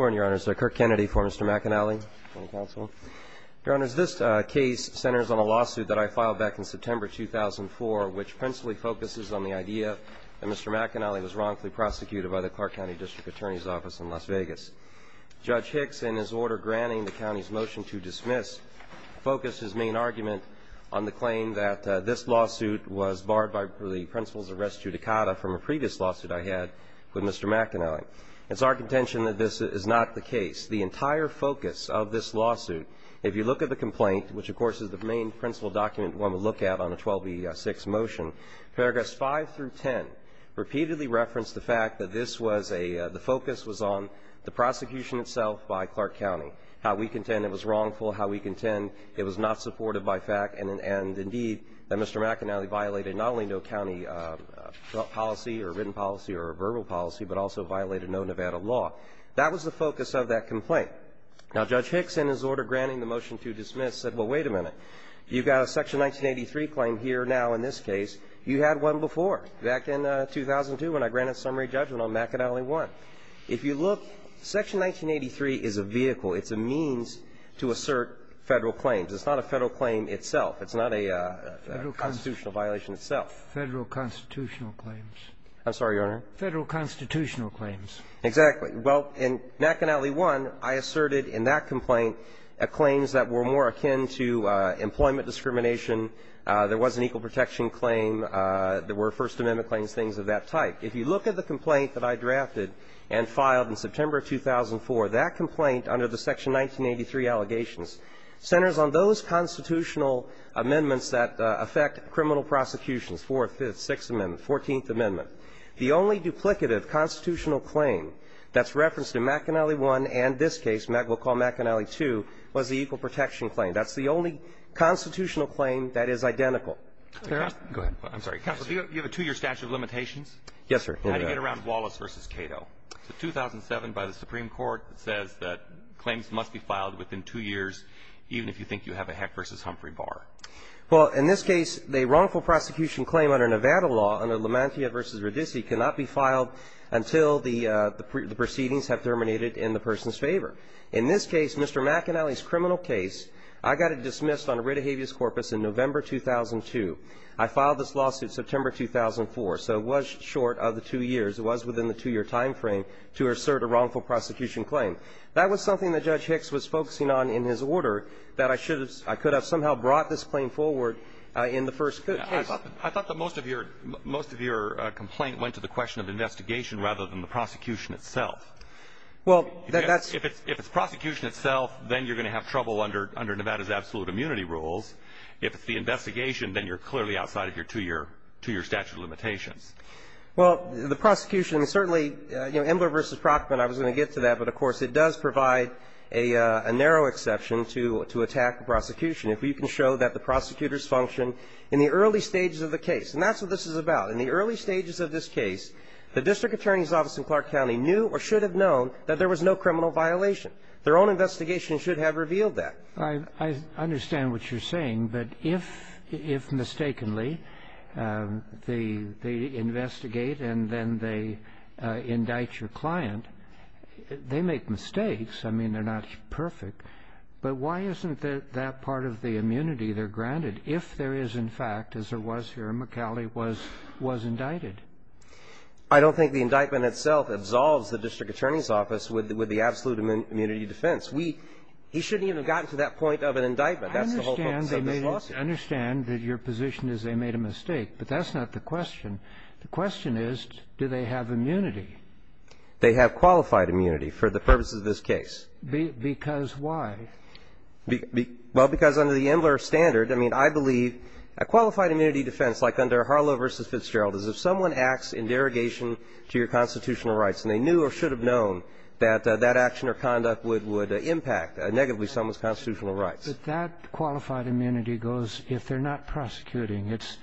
Your Honor, this case centers on a lawsuit that I filed back in September 2004, which principally focuses on the idea that Mr. McAnally was wrongfully prosecuted by the Clark County District Attorney's Office in Las Vegas. Judge Hicks, in his order granting the county's motion to dismiss, focused his main argument on the claim that this lawsuit was barred by the principles of res judicata from a previous lawsuit I had with Mr. McAnally. It's our contention that this is not the case. The prosecution itself by Clark County, how we contend it was wrongful, how we contend it was not supported by fact, and indeed, that Mr. McAnally violated not only no county policy or written policy or verbal policy, but also violated no Nevada law. That was the focus of that complaint. Now, Judge Hicks, in his order granting the motion to dismiss, said, well, wait a minute. You've got a Section 1983 claim here now in this case. You had one before, back in 2002 when I granted summary judgment on McAnally 1. If you look, Section 1983 is a vehicle. It's a means to assert Federal claims. It's not a Federal claim itself. It's not a constitutional violation itself. Federal constitutional claims. I'm sorry, Your Honor. Federal constitutional claims. Exactly. Well, in McAnally 1, I asserted in that complaint claims that were more akin to employment discrimination. There was an equal protection claim. There were First Amendment claims, things of that type. If you look at the complaint that I drafted and filed in September of 2004, that complaint under the Section 1983 allegations centers on those constitutional amendments that affect criminal prosecutions, Fourth, Fifth, Sixth Amendment, Fourteenth Amendment. The only duplicative constitutional claim that's referenced in McAnally 1 and this case, we'll call McAnally 2, was the equal protection claim. That's the only constitutional claim that is identical. Go ahead. I'm sorry. Counsel, do you have a two-year statute of limitations? Yes, sir. How do you get around Wallace v. Cato? It's a 2007 by the Supreme Court that says that claims must be filed within two years even if you think you have a Heck v. Humphrey bar. Well, in this case, the wrongful prosecution claim under Nevada law, under Lamantia v. Radice, cannot be filed until the proceedings have terminated in the person's favor. In this case, Mr. McAnally's criminal case, I got it dismissed on a writ of habeas corpus in November 2002. I filed this lawsuit September 2004. So it was short of the two years. It was within the two-year time frame to assert a wrongful prosecution claim. That was something that Judge Hicks was focusing on in his order that I should have somehow brought this claim forward in the first case. I thought that most of your complaint went to the question of investigation rather than the prosecution itself. Well, that's If it's prosecution itself, then you're going to have trouble under Nevada's absolute immunity rules. If it's the investigation, then you're clearly outside of your two-year statute of limitations. Well, the prosecution certainly, you know, Embler v. Prockman, I was going to get to that. But, of course, it does provide a narrow exception to attack the prosecution if we can show that the prosecutors functioned in the early stages of the case. And that's what this is about. In the early stages of this case, the district attorney's office in Clark County knew or should have known that there was no criminal violation. Their own investigation should have revealed that. I understand what you're saying. But if mistakenly they investigate and then they indict your client, they make mistakes. I mean, they're not perfect. But why isn't that part of the immunity there granted if there is, in fact, as there was here, McAuley was indicted? I don't think the indictment itself absolves the district attorney's office with the absolute immunity defense. He shouldn't even have gotten to that point of an indictment. That's the whole focus of this lawsuit. I understand that your position is they made a mistake. But that's not the question. The question is, do they have immunity? They have qualified immunity for the purposes of this case. Because why? Well, because under the Embler standard, I mean, I believe a qualified immunity defense, like under Harlow v. Fitzgerald, is if someone acts in derogation to your constitutional rights and they knew or should have known that that action or conduct would impact negatively someone's constitutional rights. But that qualified immunity goes if they're not prosecuting. It's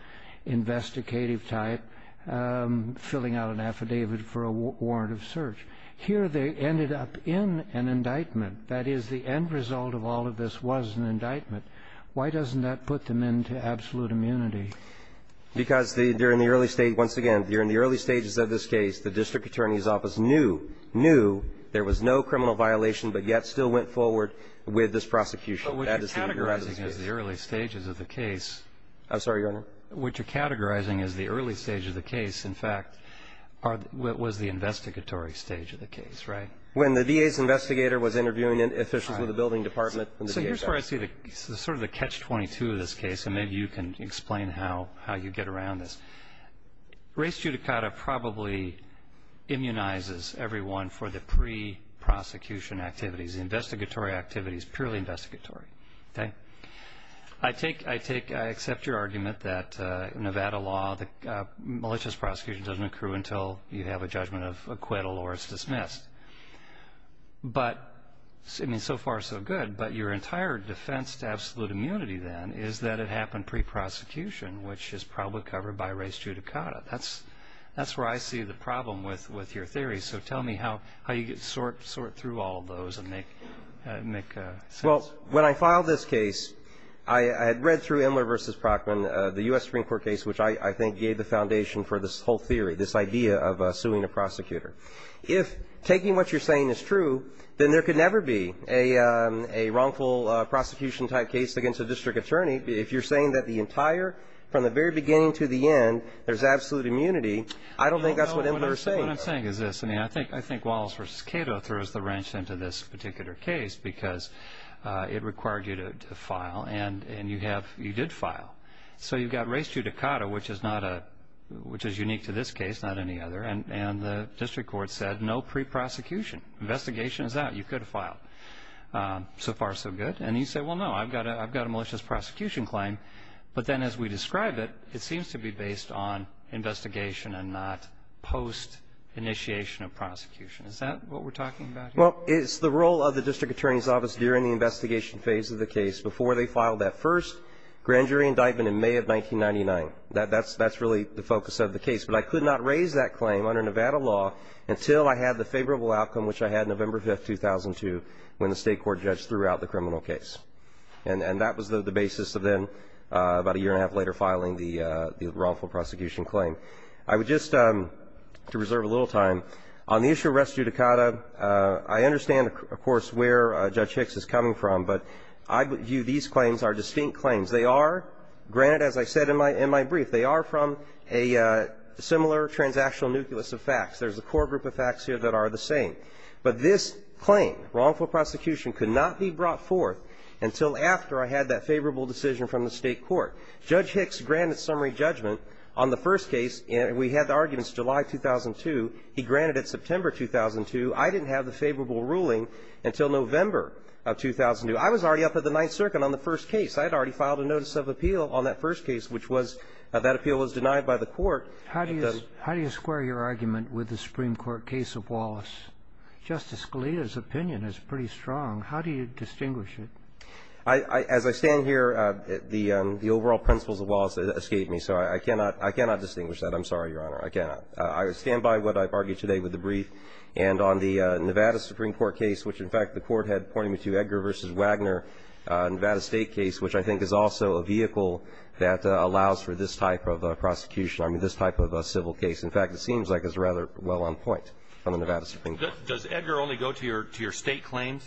investigative type, filling out an affidavit for a warrant of search. Here they ended up in an indictment. That is, the end result of all of this was an indictment. Why doesn't that put them into absolute immunity? Because during the early stage, once again, during the early stages of this case, the district attorney's office knew, knew there was no criminal violation, but yet still went forward with this prosecution. But what you're categorizing as the early stages of the case. I'm sorry, Your Honor? What you're categorizing as the early stage of the case, in fact, was the investigatory stage of the case, right? When the DA's investigator was interviewing officials with the building department. So here's where I see sort of the catch-22 of this case, and maybe you can explain how you get around this. Race judicata probably immunizes everyone for the pre-prosecution activities. The investigatory activity is purely investigatory, okay? I accept your argument that Nevada law, malicious prosecution doesn't occur until you have a judgment of acquittal or it's dismissed. But, I mean, so far so good. But your entire defense to absolute immunity then is that it happened pre-prosecution, which is probably covered by race judicata. That's where I see the problem with your theory. So tell me how you sort through all of those and make sense. Well, when I filed this case, I had read through Imler v. Prockman, the U.S. Supreme Court case, which I think gave the foundation for this whole theory, this idea of suing a prosecutor. If taking what you're saying is true, then there could never be a wrongful prosecution-type case against a district attorney. If you're saying that the entire, from the very beginning to the end, there's absolute immunity, I don't think that's what Imler is saying. What I'm saying is this. I mean, I think Wallace v. Cato throws the wrench into this particular case because it required you to file, and you did file. So you've got race judicata, which is unique to this case, not any other, and the district court said no pre-prosecution. Investigation is out. You could have filed. So far so good. And you say, well, no, I've got a malicious prosecution claim. But then as we describe it, it seems to be based on investigation and not post-initiation of prosecution. Is that what we're talking about here? Well, it's the role of the district attorney's office during the investigation phase of the case before they filed that first grand jury indictment in May of 1999. That's really the focus of the case. But I could not raise that claim under Nevada law until I had the favorable outcome, which I had November 5, 2002, when the state court judged throughout the criminal case. And that was the basis of then about a year and a half later filing the wrongful prosecution claim. I would just, to reserve a little time, on the issue of race judicata, I understand, of course, where Judge Hicks is coming from, but I view these claims are distinct claims. They are, granted, as I said in my brief, they are from a similar transactional nucleus of facts. There's a core group of facts here that are the same. But this claim, wrongful prosecution, could not be brought forth until after I had that favorable decision from the state court. Judge Hicks granted summary judgment on the first case. We had the arguments July 2002. He granted it September 2002. I didn't have the favorable ruling until November of 2002. I was already up at the Ninth Circuit on the first case. I had already filed a notice of appeal on that first case, which was that appeal was denied by the court. How do you square your argument with the Supreme Court case of Wallace? Justice Scalia's opinion is pretty strong. How do you distinguish it? As I stand here, the overall principles of Wallace escape me. So I cannot distinguish that. I'm sorry, Your Honor. I cannot. I stand by what I've argued today with the brief. And on the Nevada Supreme Court case, which, in fact, the Court had pointed me to, Edgar v. Wagner, Nevada State case, which I think is also a vehicle that allows for this type of prosecution. I mean, this type of a civil case. In fact, it seems like it's rather well on point on the Nevada Supreme Court. Does Edgar only go to your State claims?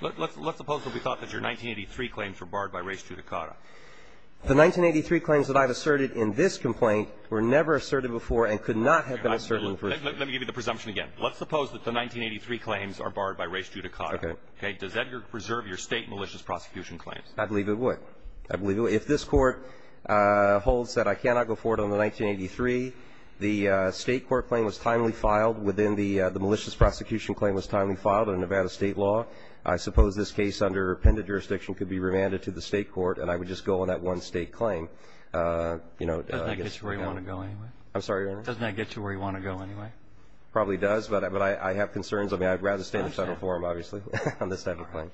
Let's suppose that we thought that your 1983 claims were barred by res judicata. The 1983 claims that I've asserted in this complaint were never asserted before and could not have been asserted on the first case. Let me give you the presumption again. Let's suppose that the 1983 claims are barred by res judicata. Okay. Does Edgar preserve your State malicious prosecution claims? I believe it would. I believe it would. If this Court holds that I cannot go forward on the 1983, the State court claim was timely filed within the malicious prosecution claim was timely filed in Nevada State law, I suppose this case under appended jurisdiction could be remanded to the State court and I would just go on that one State claim. Doesn't that get you where you want to go anyway? I'm sorry, Your Honor? Doesn't that get you where you want to go anyway? Probably does, but I have concerns. I mean, I'd rather stand in the Federal Forum, obviously, on this type of claim.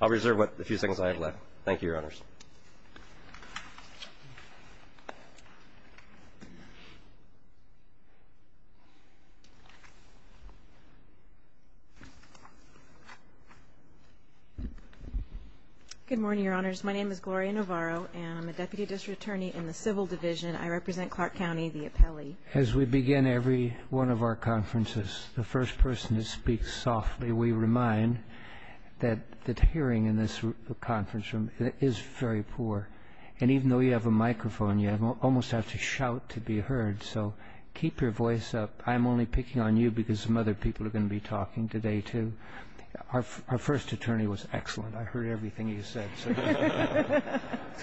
I'll reserve the few seconds I have left. Thank you, Your Honors. Good morning, Your Honors. My name is Gloria Navarro, and I'm a Deputy District Attorney in the Civil Division. I represent Clark County, the appellee. As we begin every one of our conferences, the first person to speak softly, we remind that the hearing in this conference room is very poor, and even though you have a microphone, you almost have to shout to be heard, so keep your voice up. I'm only picking on you because some other people are going to be talking today, too. Our first attorney was excellent. I heard everything he said, so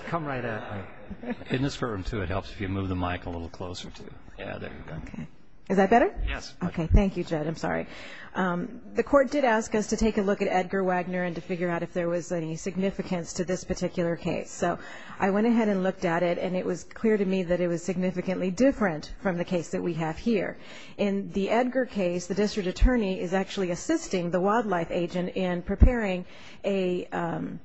come right at me. In this room, too, it helps if you move the mic a little closer, too. Yeah, there you go. Okay. Is that better? Yes. Okay. Thank you, Jed. I'm sorry. The Court did ask us to take a look at Edgar Wagner and to figure out if there was any significance to this particular case. So I went ahead and looked at it, and it was clear to me that it was significantly different from the case that we have here. In the Edgar case, the District Attorney is actually assisting the wildlife agent in preparing an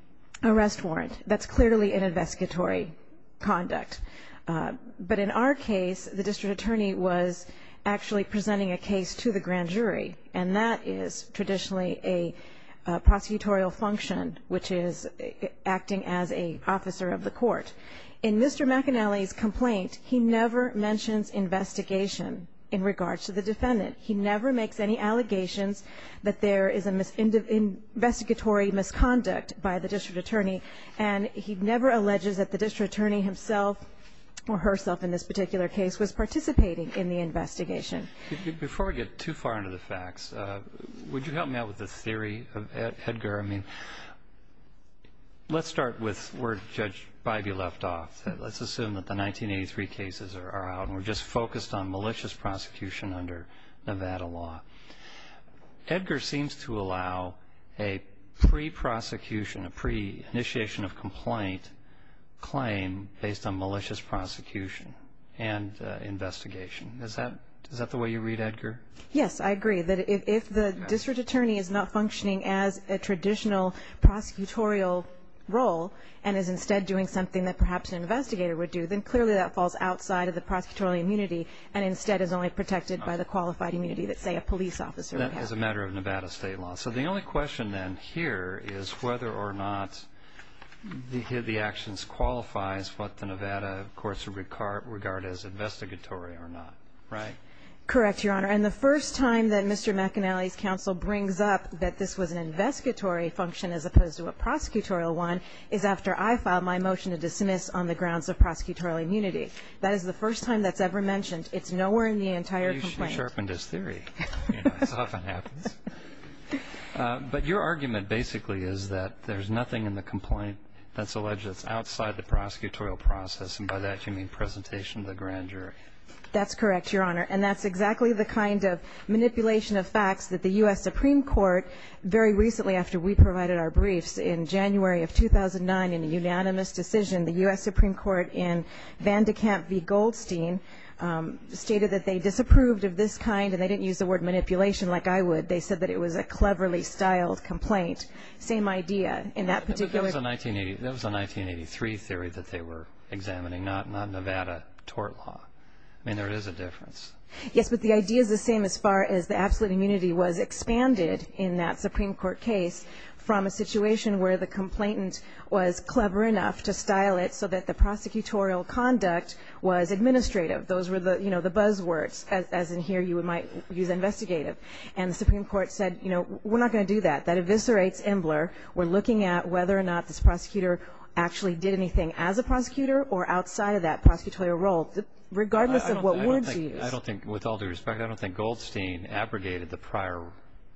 arrest warrant. That's clearly an investigatory conduct. But in our case, the District Attorney was actually presenting a case to the grand jury, and that is traditionally a prosecutorial function, which is acting as an officer of the court. In Mr. McAnally's complaint, he never mentions investigation in regards to the defendant. He never makes any allegations that there is an investigatory misconduct by the District Attorney, and he never alleges that the District Attorney himself or herself in this particular case was participating in the investigation. Before we get too far into the facts, would you help me out with the theory of Edgar? Let's start with where Judge Bybee left off. Let's assume that the 1983 cases are out, and we're just focused on malicious prosecution under Nevada law. Edgar seems to allow a pre-prosecution, a pre-initiation of complaint claim based on malicious prosecution and investigation. Is that the way you read Edgar? Yes, I agree that if the District Attorney is not functioning as a traditional prosecutorial role and is instead doing something that perhaps an investigator would do, then clearly that falls outside of the prosecutorial immunity and instead is only protected by the qualified immunity that, say, a police officer would have. That is a matter of Nevada state law. So the only question then here is whether or not the actions qualifies what the Nevada courts regard as investigatory or not, right? Correct, Your Honor, and the first time that Mr. McAnally's counsel brings up that this was an investigatory function as opposed to a prosecutorial one is after I filed my motion to dismiss on the grounds of prosecutorial immunity. That is the first time that's ever mentioned. It's nowhere in the entire complaint. You sharpened his theory. It often happens. But your argument basically is that there's nothing in the complaint that's alleged that's outside the prosecutorial process, and by that you mean presentation to the grand jury. That's correct, Your Honor, and that's exactly the kind of manipulation of facts that the U.S. Supreme Court, very recently after we provided our briefs in January of 2009 in a unanimous decision, the U.S. Supreme Court in Van de Kamp v. Goldstein stated that they disapproved of this kind and they didn't use the word manipulation like I would. They said that it was a cleverly styled complaint. Same idea in that particular case. That was a 1983 theory that they were examining, not Nevada tort law. I mean, there is a difference. Yes, but the idea is the same as far as the absolute immunity was expanded in that Supreme Court case from a situation where the complainant was clever enough to style it so that the prosecutorial conduct was administrative. Those were the buzz words, as in here you might use investigative. And the Supreme Court said, you know, we're not going to do that. That eviscerates Embler. We're looking at whether or not this prosecutor actually did anything as a prosecutor or outside of that prosecutorial role, regardless of what word she used. I don't think, with all due respect, I don't think Goldstein abrogated the prior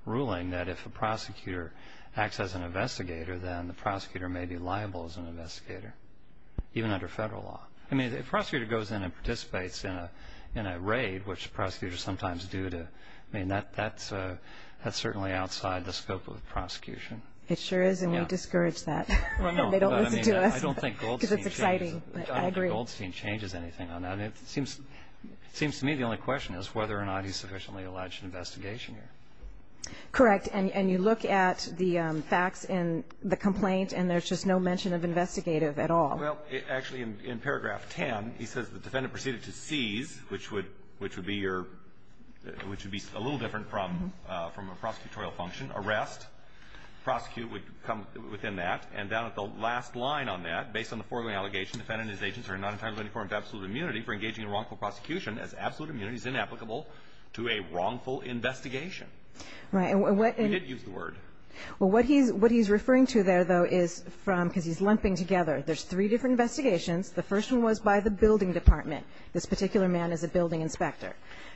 ruling that if a prosecutor acts as an investigator, then the prosecutor may be liable as an investigator, even under federal law. I mean, if a prosecutor goes in and participates in a raid, which prosecutors sometimes do, I mean, that's certainly outside the scope of the prosecution. It sure is, and we discourage that. They don't listen to us because it's exciting, but I agree. I don't think Goldstein changes anything on that. And it seems to me the only question is whether or not he's sufficiently alleged in investigation here. Correct. And you look at the facts in the complaint, and there's just no mention of investigative at all. Well, actually, in paragraph 10, he says the defendant proceeded to seize, which would be your – which would be a little different from a prosecutorial function. Arrest, prosecute would come within that. And down at the last line on that, based on the foregoing allegation, the defendant and his agents are not entitled in any form to absolute immunity for engaging in wrongful prosecution as absolute immunity is inapplicable to a wrongful investigation. Right. We did use the word. Well, what he's referring to there, though, is from – because he's lumping together. There's three different investigations. The first one was by the building department. This particular man is a building inspector.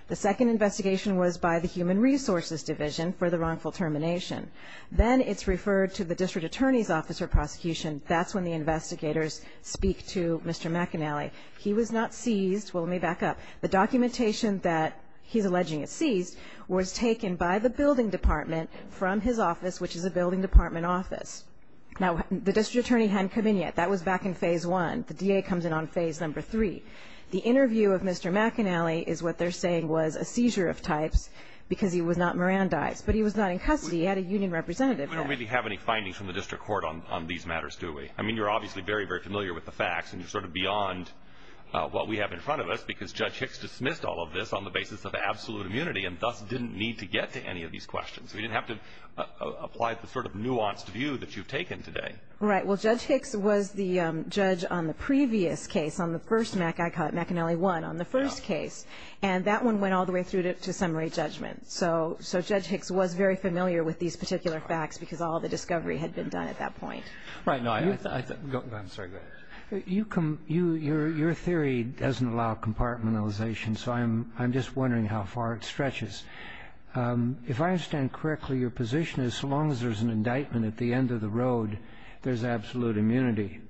The second investigation was by the human resources division for the wrongful termination. Then it's referred to the district attorney's office for prosecution. That's when the investigators speak to Mr. McAnally. He was not seized. Well, let me back up. The documentation that he's alleging is seized was taken by the building department from his office, which is a building department office. Now, the district attorney hadn't come in yet. That was back in phase one. The DA comes in on phase number three. The interview of Mr. McAnally is what they're saying was a seizure of types because he was not Mirandized. But he was not in custody. He had a union representative there. We don't really have any findings from the district court on these matters, do we? I mean, you're obviously very, very familiar with the facts, and you're sort of beyond what we have in front of us because Judge Hicks dismissed all of this on the basis of absolute immunity and thus didn't need to get to any of these questions. We didn't have to apply the sort of nuanced view that you've taken today. Right. Well, Judge Hicks was the judge on the previous case, on the first McAnally one, on the first case, and that one went all the way through to summary judgment. So Judge Hicks was very familiar with these particular facts because all the discovery had been done at that point. Right. I'm sorry. Go ahead. Your theory doesn't allow compartmentalization, so I'm just wondering how far it stretches. If I understand correctly, your position is so long as there's an indictment at the end of the road, there's absolute immunity.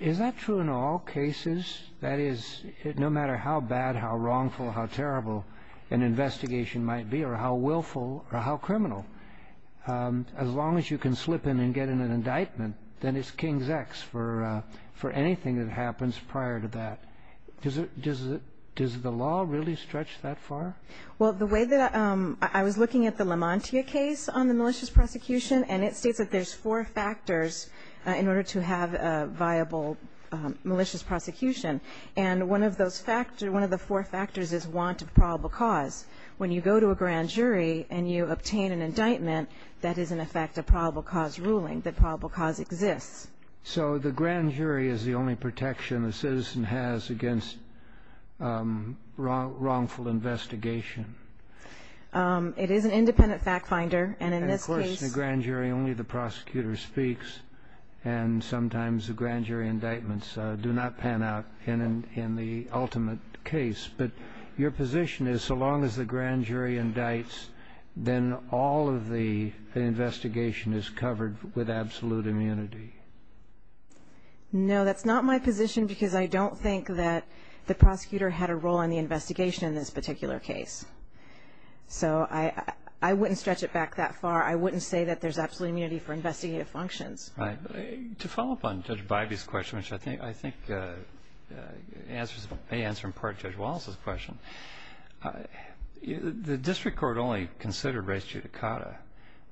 Is that true in all cases? That is, no matter how bad, how wrongful, how terrible an investigation might be or how willful or how criminal, as long as you can slip in and get an indictment, then it's king's X for anything that happens prior to that. Does the law really stretch that far? Well, the way that I was looking at the Lamontia case on the malicious prosecution, and it states that there's four factors in order to have a viable malicious prosecution. And one of those factors, one of the four factors is want of probable cause. When you go to a grand jury and you obtain an indictment, that is, in effect, a probable cause ruling, that probable cause exists. So the grand jury is the only protection a citizen has against wrongful investigation. It is an independent fact finder. And, of course, in a grand jury, only the prosecutor speaks, and sometimes the grand jury indictments do not pan out in the ultimate case. But your position is so long as the grand jury indicts, then all of the investigation is covered with absolute immunity. No, that's not my position because I don't think that the prosecutor had a role in the investigation in this particular case. So I wouldn't stretch it back that far. I wouldn't say that there's absolute immunity for investigative functions. Right. To follow up on Judge Bybee's question, which I think may answer in part Judge Wallace's question, the district court only considered res judicata.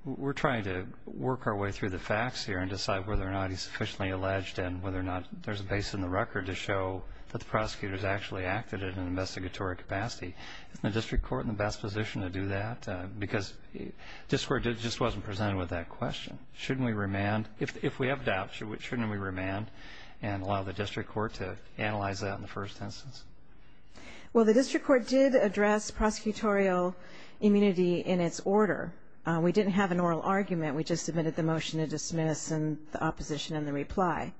We're trying to work our way through the facts here and decide whether or not he's sufficiently alleged and whether or not there's a base in the record to show that the prosecutor has actually acted in an investigatory capacity. Isn't the district court in the best position to do that? Because the district court just wasn't presented with that question. Shouldn't we remand? If we have doubts, shouldn't we remand and allow the district court to analyze that in the first instance? Well, the district court did address prosecutorial immunity in its order. We didn't have an oral argument. We just submitted the motion to dismiss and the opposition in the reply.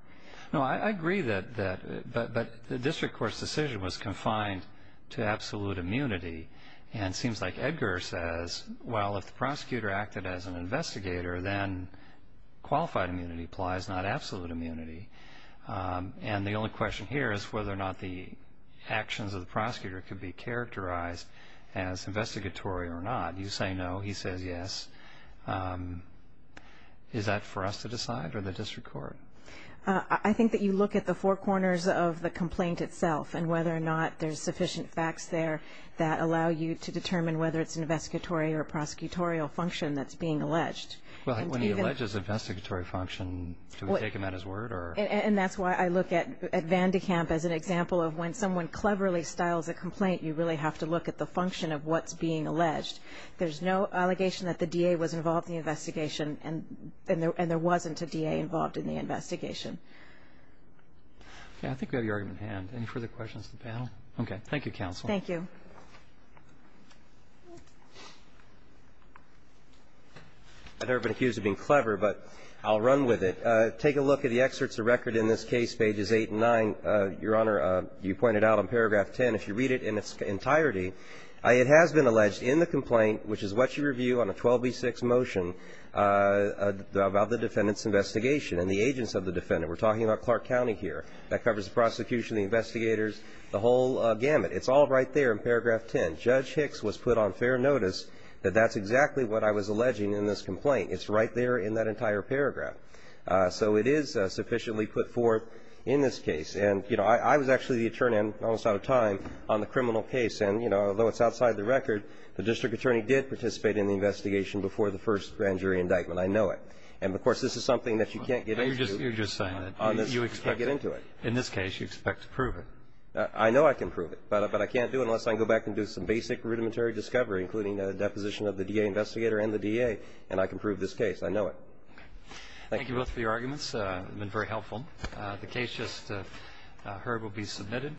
No, I agree that the district court's decision was confined to absolute immunity. And it seems like Edgar says, well, if the prosecutor acted as an investigator, then qualified immunity applies, not absolute immunity. And the only question here is whether or not the actions of the prosecutor could be characterized as investigatory or not. You say no. He says yes. Is that for us to decide or the district court? I think that you look at the four corners of the complaint itself and whether or not there's sufficient facts there that allow you to determine whether it's an investigatory or prosecutorial function that's being alleged. Well, when he alleges investigatory function, do we take him at his word or? And that's why I look at Van de Kamp as an example of when someone cleverly styles a complaint, you really have to look at the function of what's being alleged. There's no allegation that the DA was involved in the investigation and there wasn't a DA involved in the investigation. Okay. I think we have your argument at hand. Any further questions of the panel? Okay. Thank you, counsel. Thank you. I've never been accused of being clever, but I'll run with it. Take a look at the excerpts of record in this case, pages 8 and 9. Your Honor, you pointed out in paragraph 10, if you read it in its entirety, it has been alleged in the complaint, which is what you review on a 12B6 motion about the defendant's investigation and the agents of the defendant. We're talking about Clark County here. That covers the prosecution, the investigators, the whole gamut. It's all right there in paragraph 10. Judge Hicks was put on fair notice that that's exactly what I was alleging in this complaint. It's right there in that entire paragraph. So it is sufficiently put forth in this case. And, you know, I was actually the attorney, almost out of time, on the criminal case. And, you know, though it's outside the record, the district attorney did participate in the investigation before the first grand jury indictment. I know it. And, of course, this is something that you can't get into. You're just saying that. You expect to get into it. In this case, you expect to prove it. I know I can prove it. But I can't do it unless I can go back and do some basic rudimentary discovery, including a deposition of the DA investigator and the DA, and I can prove this case. I know it. Okay. Thank you both for your arguments. They've been very helpful. The case just heard will be submitted.